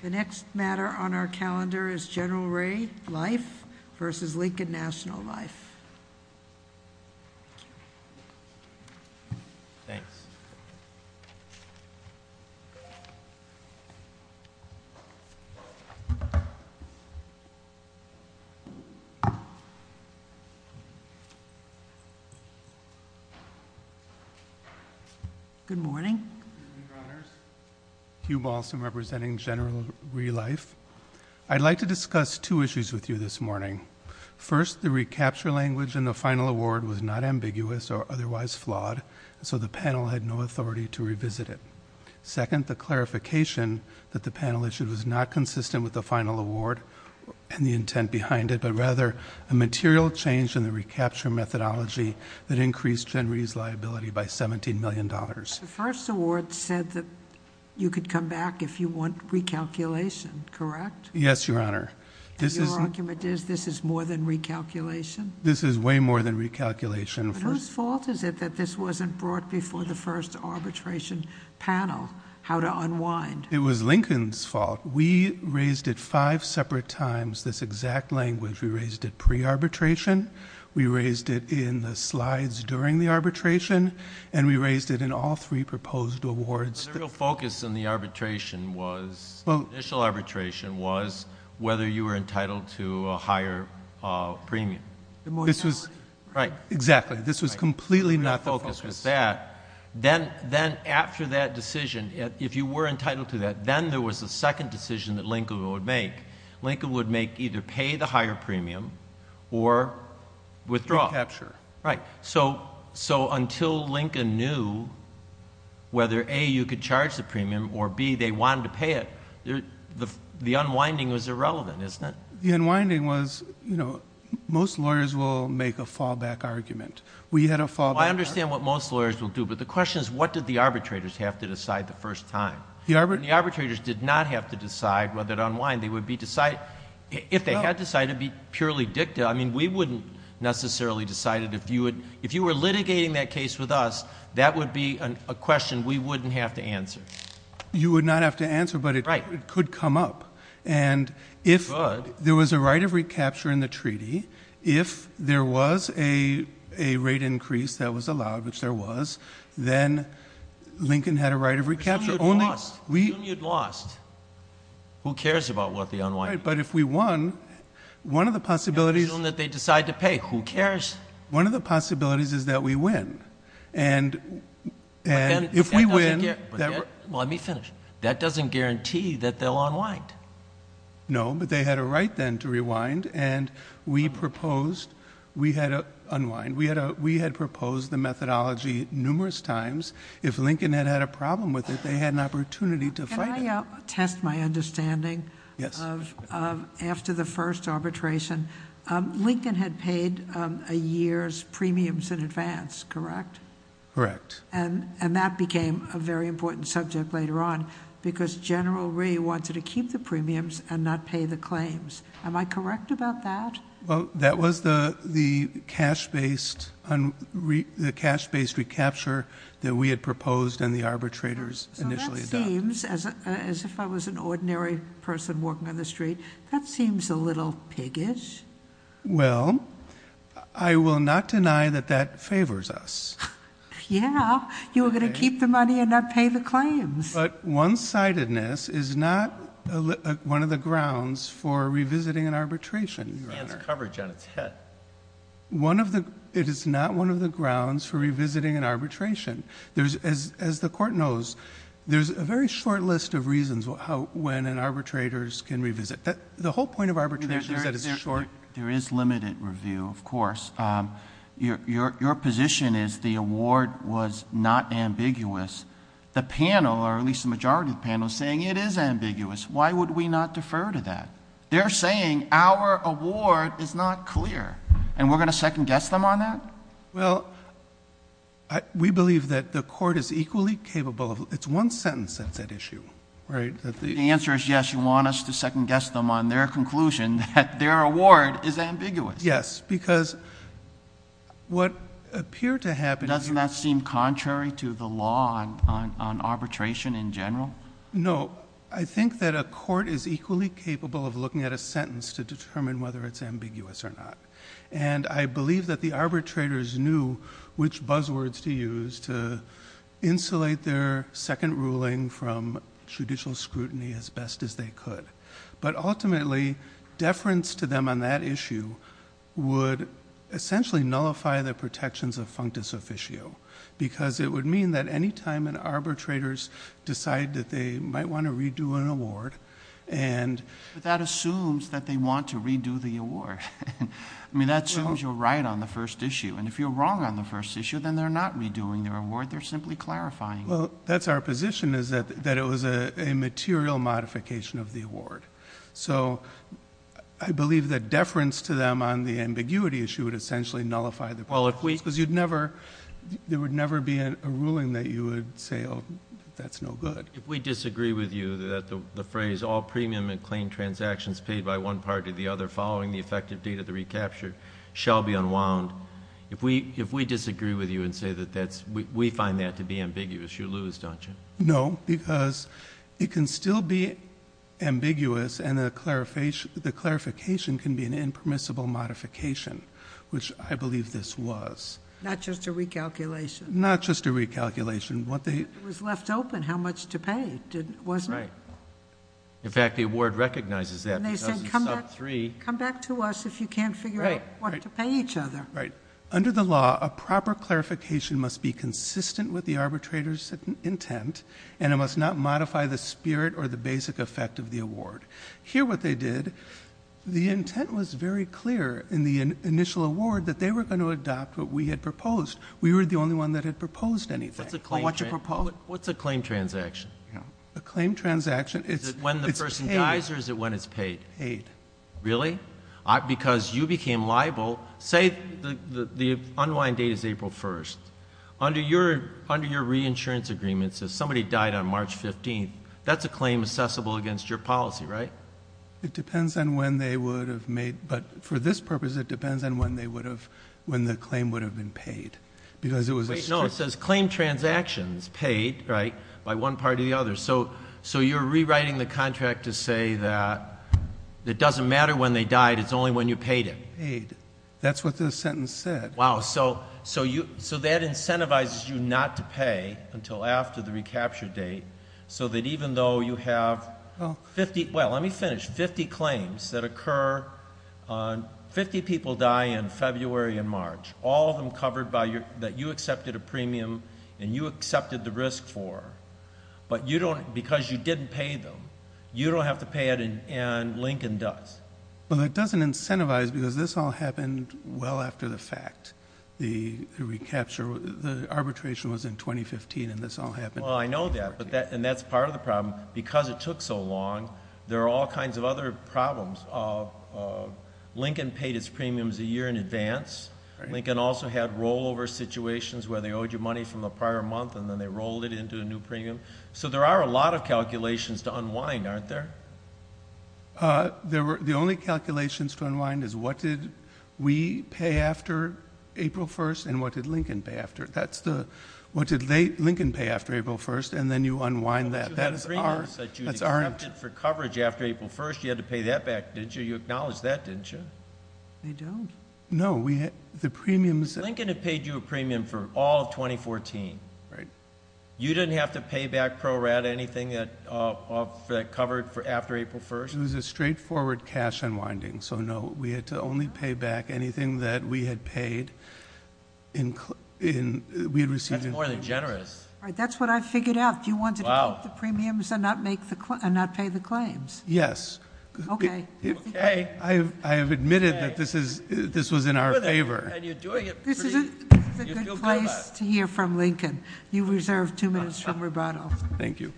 The next matter on our calendar is General Ray Life v. Lincoln National Life. Good morning. Good morning, Your Honors. Hugh Balsam representing General Ray Life. I'd like to discuss two issues with you this morning. First, the recapture language in the final award was not ambiguous or otherwise flawed, so the panel had no authority to revisit it. Second, the clarification that the panel issue was not consistent with the final award and the intent behind it, but rather a material change in the recapture methodology that increased Gen Ray's liability by $17 million. The first award said that you could come back if you want recalculation, correct? Yes, Your Honor. And your argument is this is more than recalculation? This is way more than recalculation. Whose fault is it that this wasn't brought before the first arbitration panel, how to unwind? It was Lincoln's fault. We raised it five separate times, this exact language. We raised it pre-arbitration, we raised it in the slides during the arbitration, and we raised it in all three proposed awards. The real focus in the initial arbitration was whether you were entitled to a higher premium. Exactly. This was completely not the focus. Then after that decision, if you were entitled to that, then there was a second decision that Lincoln would make. Recapture. Recapture. Until Lincoln knew whether A, you could charge the premium, or B, they wanted to pay it, the unwinding was irrelevant, isn't it? The unwinding was... most lawyers will make a fallback argument. I understand what most lawyers will do, but the question is what did the arbitrators have to decide the first time? The arbitrators did not have to decide whether to unwind. If they had decided, it would be purely dicta. We wouldn't necessarily decide it. If you were litigating that case with us, that would be a question we wouldn't have to answer. You would not have to answer, but it could come up. It could. If there was a right of recapture in the treaty, if there was a rate increase that was allowed, which there was, then Lincoln had a right of recapture. Assume you'd lost. Who cares about the unwinding? Right, but if we won, one of the possibilities... Assume that they decide to pay. Who cares? One of the possibilities is that we win, and if we win... Let me finish. That doesn't guarantee that they'll unwind. No, but they had a right then to rewind, and we proposed we had to unwind. We had proposed the methodology numerous times. If Lincoln had had a problem with it, they had an opportunity to fight it. Let me test my understanding. Yes. After the first arbitration, Lincoln had paid a year's premiums in advance, correct? Correct. And that became a very important subject later on, because General Ree wanted to keep the premiums and not pay the claims. Am I correct about that? Well, that was the cash-based recapture that we had proposed and the arbitrators initially adopted. Paying the claims, as if I was an ordinary person walking on the street, that seems a little piggish. Well, I will not deny that that favors us. Yeah, you were going to keep the money and not pay the claims. But one-sidedness is not one of the grounds for revisiting an arbitration. It's coverage on its head. It is not one of the grounds for revisiting an arbitration. As the Court knows, there's a very short list of reasons when an arbitrator can revisit. The whole point of arbitration is that it's short. There is limited review, of course. Your position is the award was not ambiguous. The panel, or at least the majority of the panel, is saying it is ambiguous. Why would we not defer to that? They're saying our award is not clear, and we're going to second-guess them on that? Well, we believe that the Court is equally capable of—it's one sentence that's at issue, right? The answer is yes, you want us to second-guess them on their conclusion that their award is ambiguous. Yes, because what appeared to happen— Doesn't that seem contrary to the law on arbitration in general? No. I think that a court is equally capable of looking at a sentence to determine whether it's ambiguous or not. I believe that the arbitrators knew which buzzwords to use to insulate their second ruling from judicial scrutiny as best as they could. Ultimately, deference to them on that issue would essentially nullify the protections of functus officio, because it would mean that any time an arbitrator decides that they might want to redo an award— But that assumes that they want to redo the award. I mean, that assumes you're right on the first issue. And if you're wrong on the first issue, then they're not redoing their award. They're simply clarifying it. Well, that's our position, is that it was a material modification of the award. So I believe that deference to them on the ambiguity issue would essentially nullify the protections, because there would never be a ruling that you would say, oh, that's no good. If we disagree with you that the phrase all premium and claim transactions paid by one party or the other following the effective date of the recapture shall be unwound, if we disagree with you and say that we find that to be ambiguous, you lose, don't you? No, because it can still be ambiguous, and the clarification can be an impermissible modification, which I believe this was. Not just a recalculation. Not just a recalculation. It was left open how much to pay, wasn't it? Right. In fact, the award recognizes that. And they said come back to us if you can't figure out what to pay each other. Right. Under the law, a proper clarification must be consistent with the arbitrator's intent, and it must not modify the spirit or the basic effect of the award. Here what they did, the intent was very clear in the initial award that they were going to adopt what we had proposed. We were the only one that had proposed anything. What's a claim transaction? A claim transaction, it's paid. Is it when the person dies or is it when it's paid? Paid. Really? Because you became liable, say the unwind date is April 1st. Under your reinsurance agreements, if somebody died on March 15th, that's a claim accessible against your policy, right? It depends on when they would have made, but for this purpose it depends on when the claim would have been paid. Wait, no, it says claim transactions paid, right, by one party or the other. So you're rewriting the contract to say that it doesn't matter when they died, it's only when you paid it. Paid. That's what the sentence said. Wow. So that incentivizes you not to pay until after the recapture date so that even though you have 50, well, let me finish, 50 claims that occur, 50 people die in February and March. All of them covered by your, that you accepted a premium and you accepted the risk for. But you don't, because you didn't pay them, you don't have to pay it and Lincoln does. But that doesn't incentivize because this all happened well after the fact. The recapture, the arbitration was in 2015 and this all happened. Well, I know that, and that's part of the problem. Because it took so long, there are all kinds of other problems. Lincoln paid its premiums a year in advance. Lincoln also had rollover situations where they owed you money from the prior month and then they rolled it into a new premium. So there are a lot of calculations to unwind, aren't there? The only calculations to unwind is what did we pay after April 1st and what did Lincoln pay after. What did Lincoln pay after April 1st and then you unwind that. But you had a premium that you accepted for coverage after April 1st. You had to pay that back, didn't you? You acknowledged that, didn't you? They don't. No. Lincoln had paid you a premium for all of 2014. Right. You didn't have to pay back ProRata anything that covered after April 1st? It was a straightforward cash unwinding. So, no, we had to only pay back anything that we had paid. That's more than generous. That's what I figured out. You wanted to take the premiums and not pay the claims. Yes. Okay. Okay. I have admitted that this was in our favor. This is a good place to hear from Lincoln. You reserve two minutes from rubato. Thank you.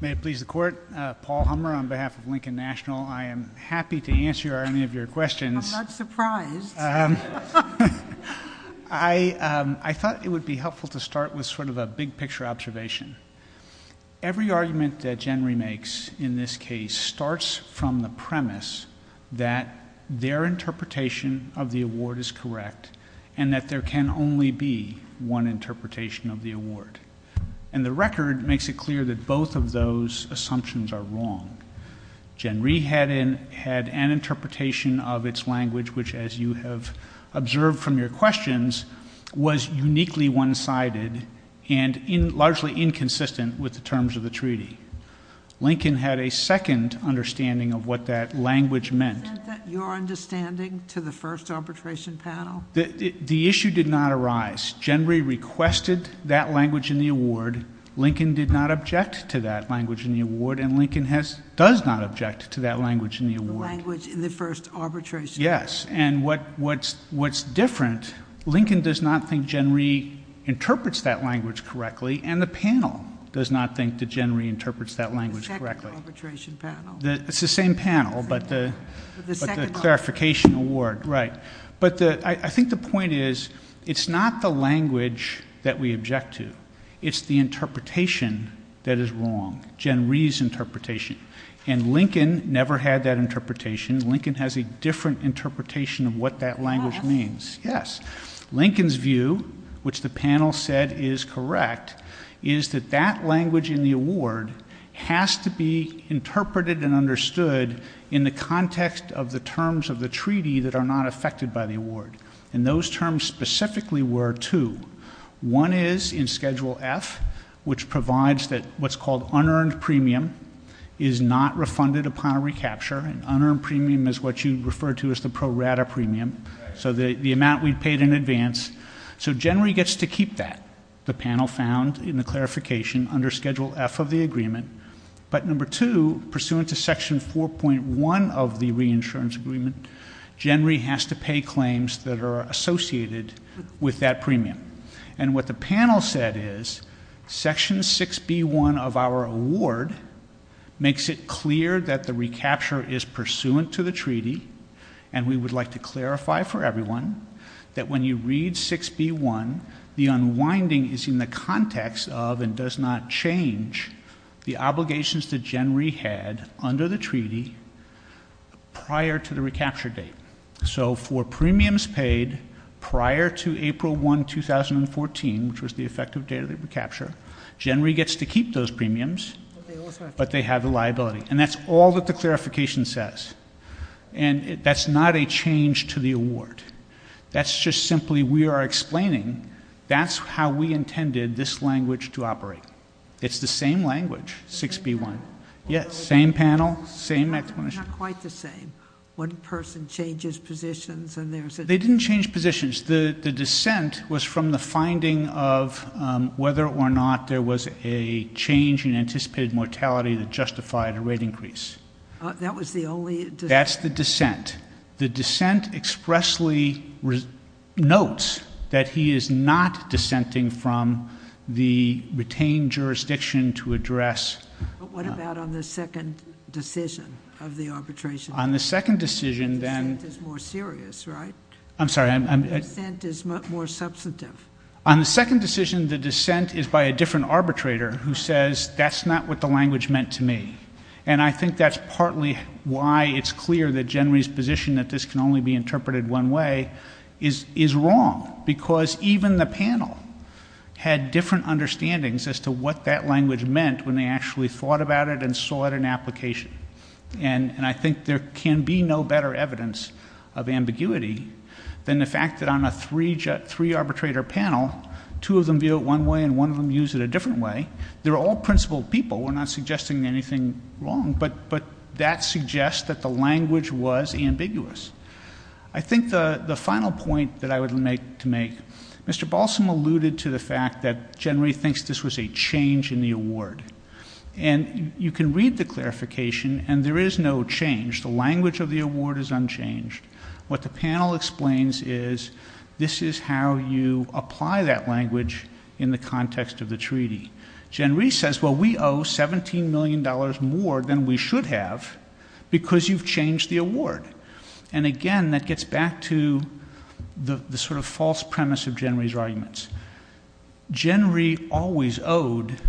May it please the court. Paul Hummer on behalf of Lincoln National. I am happy to answer any of your questions. I'm not surprised. I thought it would be helpful to start with sort of a big picture observation. Every argument that Jen remakes in this case starts from the premise that their interpretation of the award is correct and that there can only be one interpretation of the award. And the record makes it clear that both of those assumptions are wrong. Genree had an interpretation of its language, which as you have observed from your questions, was uniquely one-sided and largely inconsistent with the terms of the treaty. Lincoln had a second understanding of what that language meant. Isn't that your understanding to the first arbitration panel? The issue did not arise. Genree requested that language in the award. Lincoln did not object to that language in the award, and Lincoln does not object to that language in the award. The language in the first arbitration panel. Yes, and what's different, Lincoln does not think Genree interprets that language correctly, and the panel does not think that Genree interprets that language correctly. The second arbitration panel. It's the same panel, but the clarification award. Right. But I think the point is, it's not the language that we object to. It's the interpretation that is wrong. Genree's interpretation. And Lincoln never had that interpretation. Lincoln has a different interpretation of what that language means. Yes. Lincoln's view, which the panel said is correct, is that that language in the award has to be interpreted and understood in the context of the terms of the treaty that are not affected by the award. And those terms specifically were two. One is in Schedule F, which provides what's called unearned premium, is not refunded upon recapture. Unearned premium is what you refer to as the pro rata premium, so the amount we paid in advance. So Genree gets to keep that, the panel found in the clarification, under Schedule F of the agreement. But number two, pursuant to Section 4.1 of the reinsurance agreement, Genree has to pay claims that are associated with that premium. And what the panel said is, Section 6B1 of our award makes it clear that the recapture is pursuant to the treaty, and we would like to clarify for everyone that when you read 6B1, the unwinding is in the context of and does not change the obligations that Genree had under the treaty prior to the recapture date. So for premiums paid prior to April 1, 2014, which was the effective date of the recapture, Genree gets to keep those premiums, but they have a liability. And that's all that the clarification says. And that's not a change to the award. That's just simply we are explaining, that's how we intended this language to operate. It's the same language, 6B1. Yes, same panel, same explanation. Not quite the same. One person changes positions and there's a difference. They didn't change positions. The dissent was from the finding of whether or not there was a change in anticipated mortality that justified a rate increase. That was the only dissent? That's the dissent. The dissent expressly notes that he is not dissenting from the retained jurisdiction to address. But what about on the second decision of the arbitration? On the second decision, then. The dissent is more serious, right? I'm sorry. The dissent is more substantive. On the second decision, the dissent is by a different arbitrator who says, that's not what the language meant to me. And I think that's partly why it's clear that Genry's position that this can only be interpreted one way is wrong. Because even the panel had different understandings as to what that language meant when they actually thought about it and saw it in application. And I think there can be no better evidence of ambiguity than the fact that on a three-arbitrator panel, two of them view it one way and one of them use it a different way. They're all principled people. We're not suggesting anything wrong. But that suggests that the language was ambiguous. I think the final point that I would like to make, Mr. Balsam alluded to the fact that Genry thinks this was a change in the award. And you can read the clarification, and there is no change. The language of the award is unchanged. What the panel explains is, this is how you apply that language in the context of the treaty. Genry says, well, we owe $17 million more than we should have because you've changed the award. And, again, that gets back to the sort of false premise of Genry's arguments. Genry always owed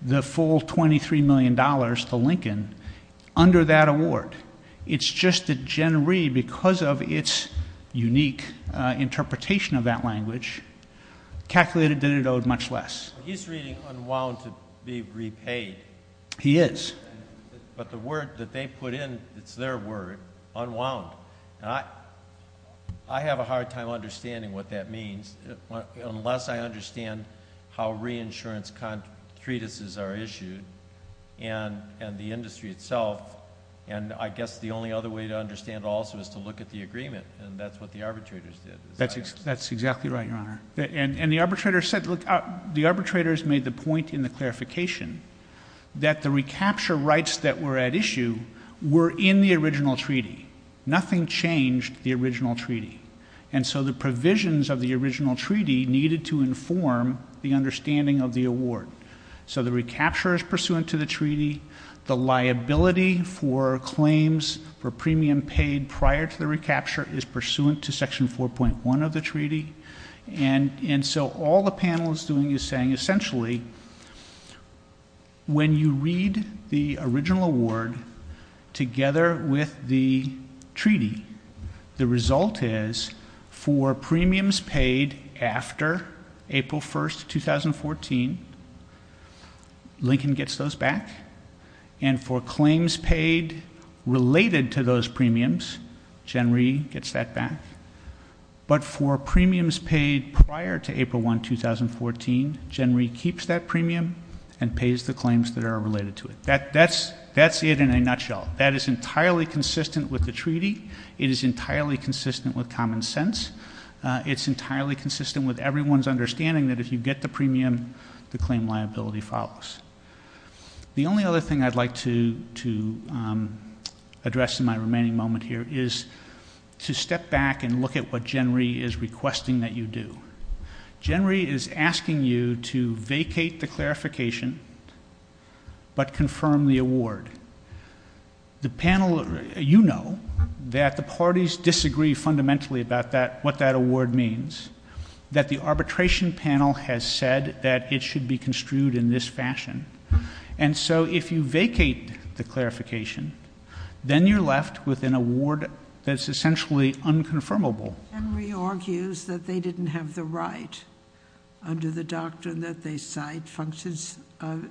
the full $23 million to Lincoln under that award. It's just that Genry, because of its unique interpretation of that language, calculated that it owed much less. He's reading unwound to be repaid. He is. But the word that they put in, it's their word, unwound. I have a hard time understanding what that means unless I understand how reinsurance treatises are issued and the industry itself. And I guess the only other way to understand it also is to look at the agreement, and that's what the arbitrators did. That's exactly right, Your Honor. And the arbitrators made the point in the clarification that the recapture rights that were at issue were in the original treaty. Nothing changed the original treaty. And so the provisions of the original treaty needed to inform the understanding of the award. So the recapture is pursuant to the treaty. The liability for claims for premium paid prior to the recapture is pursuant to Section 4.1 of the treaty. And so all the panel is doing is saying, essentially, when you read the original award together with the treaty, the result is for premiums paid after April 1, 2014, Lincoln gets those back, and for claims paid related to those premiums, Gen. Rhee gets that back. But for premiums paid prior to April 1, 2014, Gen. Rhee keeps that premium and pays the claims that are related to it. That's it in a nutshell. That is entirely consistent with the treaty. It is entirely consistent with common sense. It's entirely consistent with everyone's understanding that if you get the premium, the claim liability follows. The only other thing I'd like to address in my remaining moment here is to step back and look at what Gen. Rhee is requesting that you do. Gen. Rhee is asking you to vacate the clarification but confirm the award. You know that the parties disagree fundamentally about what that award means, that the arbitration panel has said that it should be construed in this fashion. And so if you vacate the clarification, then you're left with an award that's essentially unconfirmable. Gen. Rhee argues that they didn't have the right under the doctrine that they cite functions of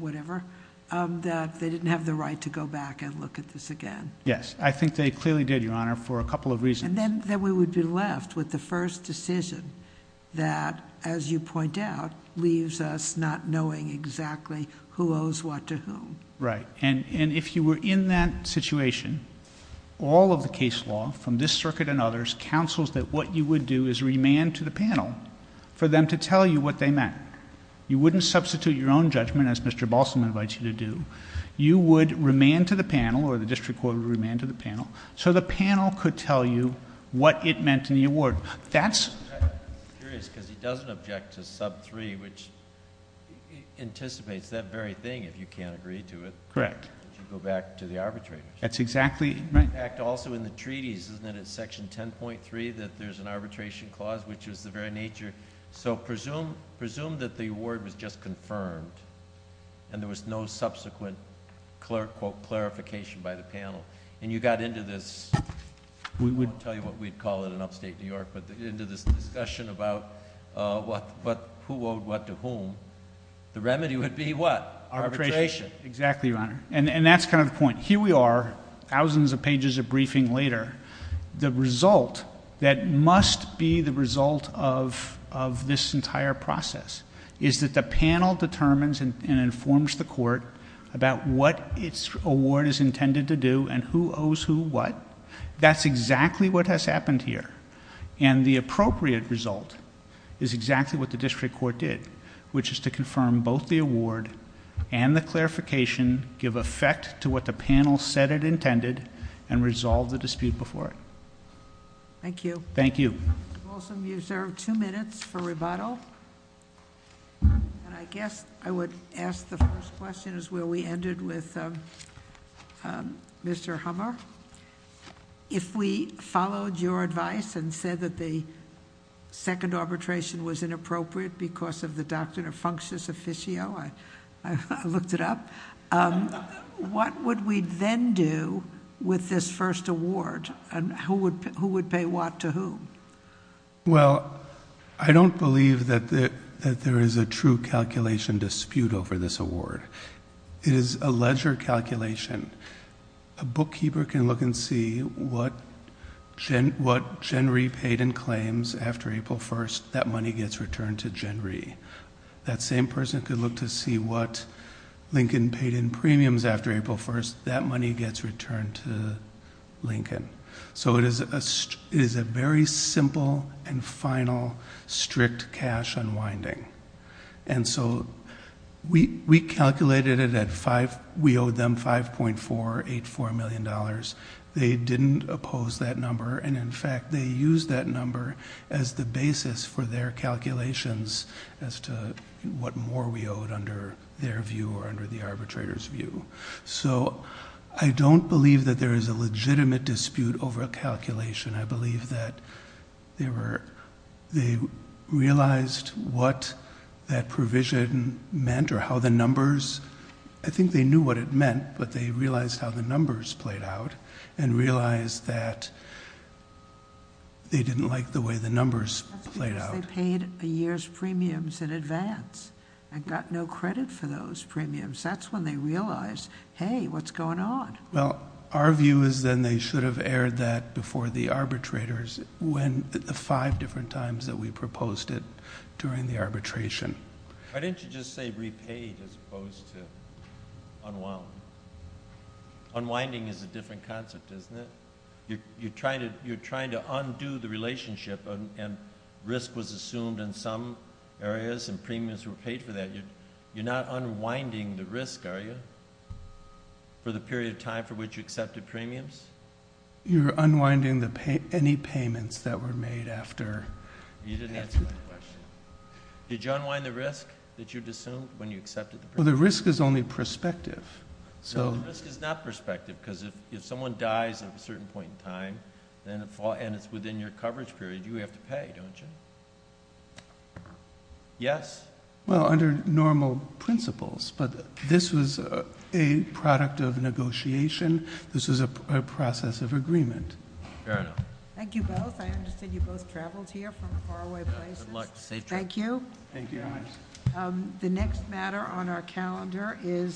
whatever, that they didn't have the right to go back and look at this again. Yes, I think they clearly did, Your Honor, for a couple of reasons. And then we would be left with the first decision that, as you point out, leaves us not knowing exactly who owes what to whom. Right. And if you were in that situation, all of the case law from this circuit and others counsels that what you would do is remand to the panel for them to tell you what they meant. You wouldn't substitute your own judgment as Mr. Balsam invites you to do. You would remand to the panel or the district court would remand to the panel so the panel could tell you what it meant in the award. That's... I'm curious because he doesn't object to sub 3, which anticipates that very thing if you can't agree to it. Correct. You go back to the arbitrators. That's exactly... In fact, also in the treaties, isn't it in section 10.3 that there's an arbitration clause, which is the very nature... So presume that the award was just confirmed and there was no subsequent quote, clarification by the panel and you got into this... We would... I won't tell you what we'd call it in upstate New York, but into this discussion about who owed what to whom, the remedy would be what? Arbitration. Exactly, Your Honor. And that's kind of the point. Here we are, thousands of pages of briefing later. The result that must be the result of this entire process is that the panel determines and informs the court about what its award is intended to do and who owes who what. That's exactly what has happened here and the appropriate result is exactly what the district court did, which is to confirm both the award and the clarification, give effect to what the panel said it intended, and resolve the dispute before it. Thank you. Thank you. Mr. Blossom, you've served two minutes for rebuttal. And I guess I would ask the first question is where we ended with Mr. Hummer. If we followed your advice and said that the second arbitration was inappropriate because of the doctrine of functious officio, I looked it up, what would we then do with this first award and who would pay what to whom? Well, I don't believe that there is a true calculation dispute over this award. It is a ledger calculation. A bookkeeper can look and see what Genry paid in claims after April 1st. That money gets returned to Genry. That same person could look to see what Lincoln paid in premiums after April 1st. That money gets returned to Lincoln. So it is a very simple and final strict cash unwinding. And so we calculated it at 5. We owed them $5.484 million. They didn't oppose that number. And, in fact, they used that number as the basis for their calculations as to what more we owed under their view or under the arbitrator's view. So I don't believe that there is a legitimate dispute over a calculation. I believe that they realized what that provision meant or how the numbers. I think they knew what it meant, but they realized how the numbers played out and realized that they didn't like the way the numbers played out. That's because they paid a year's premiums in advance and got no credit for those premiums. That's when they realized, hey, what's going on? Well, our view is then they should have aired that before the arbitrators when the five different times that we proposed it during the arbitration. Why didn't you just say repaid as opposed to unwound? Unwinding is a different concept, isn't it? You're trying to undo the relationship, and risk was assumed in some areas and premiums were paid for that. You're not unwinding the risk, are you, for the period of time for which you accepted premiums? You're unwinding any payments that were made after. You didn't answer my question. Did you unwind the risk that you'd assumed when you accepted the premiums? Well, the risk is only perspective. The risk is not perspective because if someone dies at a certain point in time and it's within your coverage period, you have to pay, don't you? Yes? Well, under normal principles, but this was a product of negotiation. This was a process of agreement. Fair enough. Thank you both. I understand you both traveled here from far away places. Good luck. Safe trip. Thank you. Thank you very much. The next matter on our calendar is-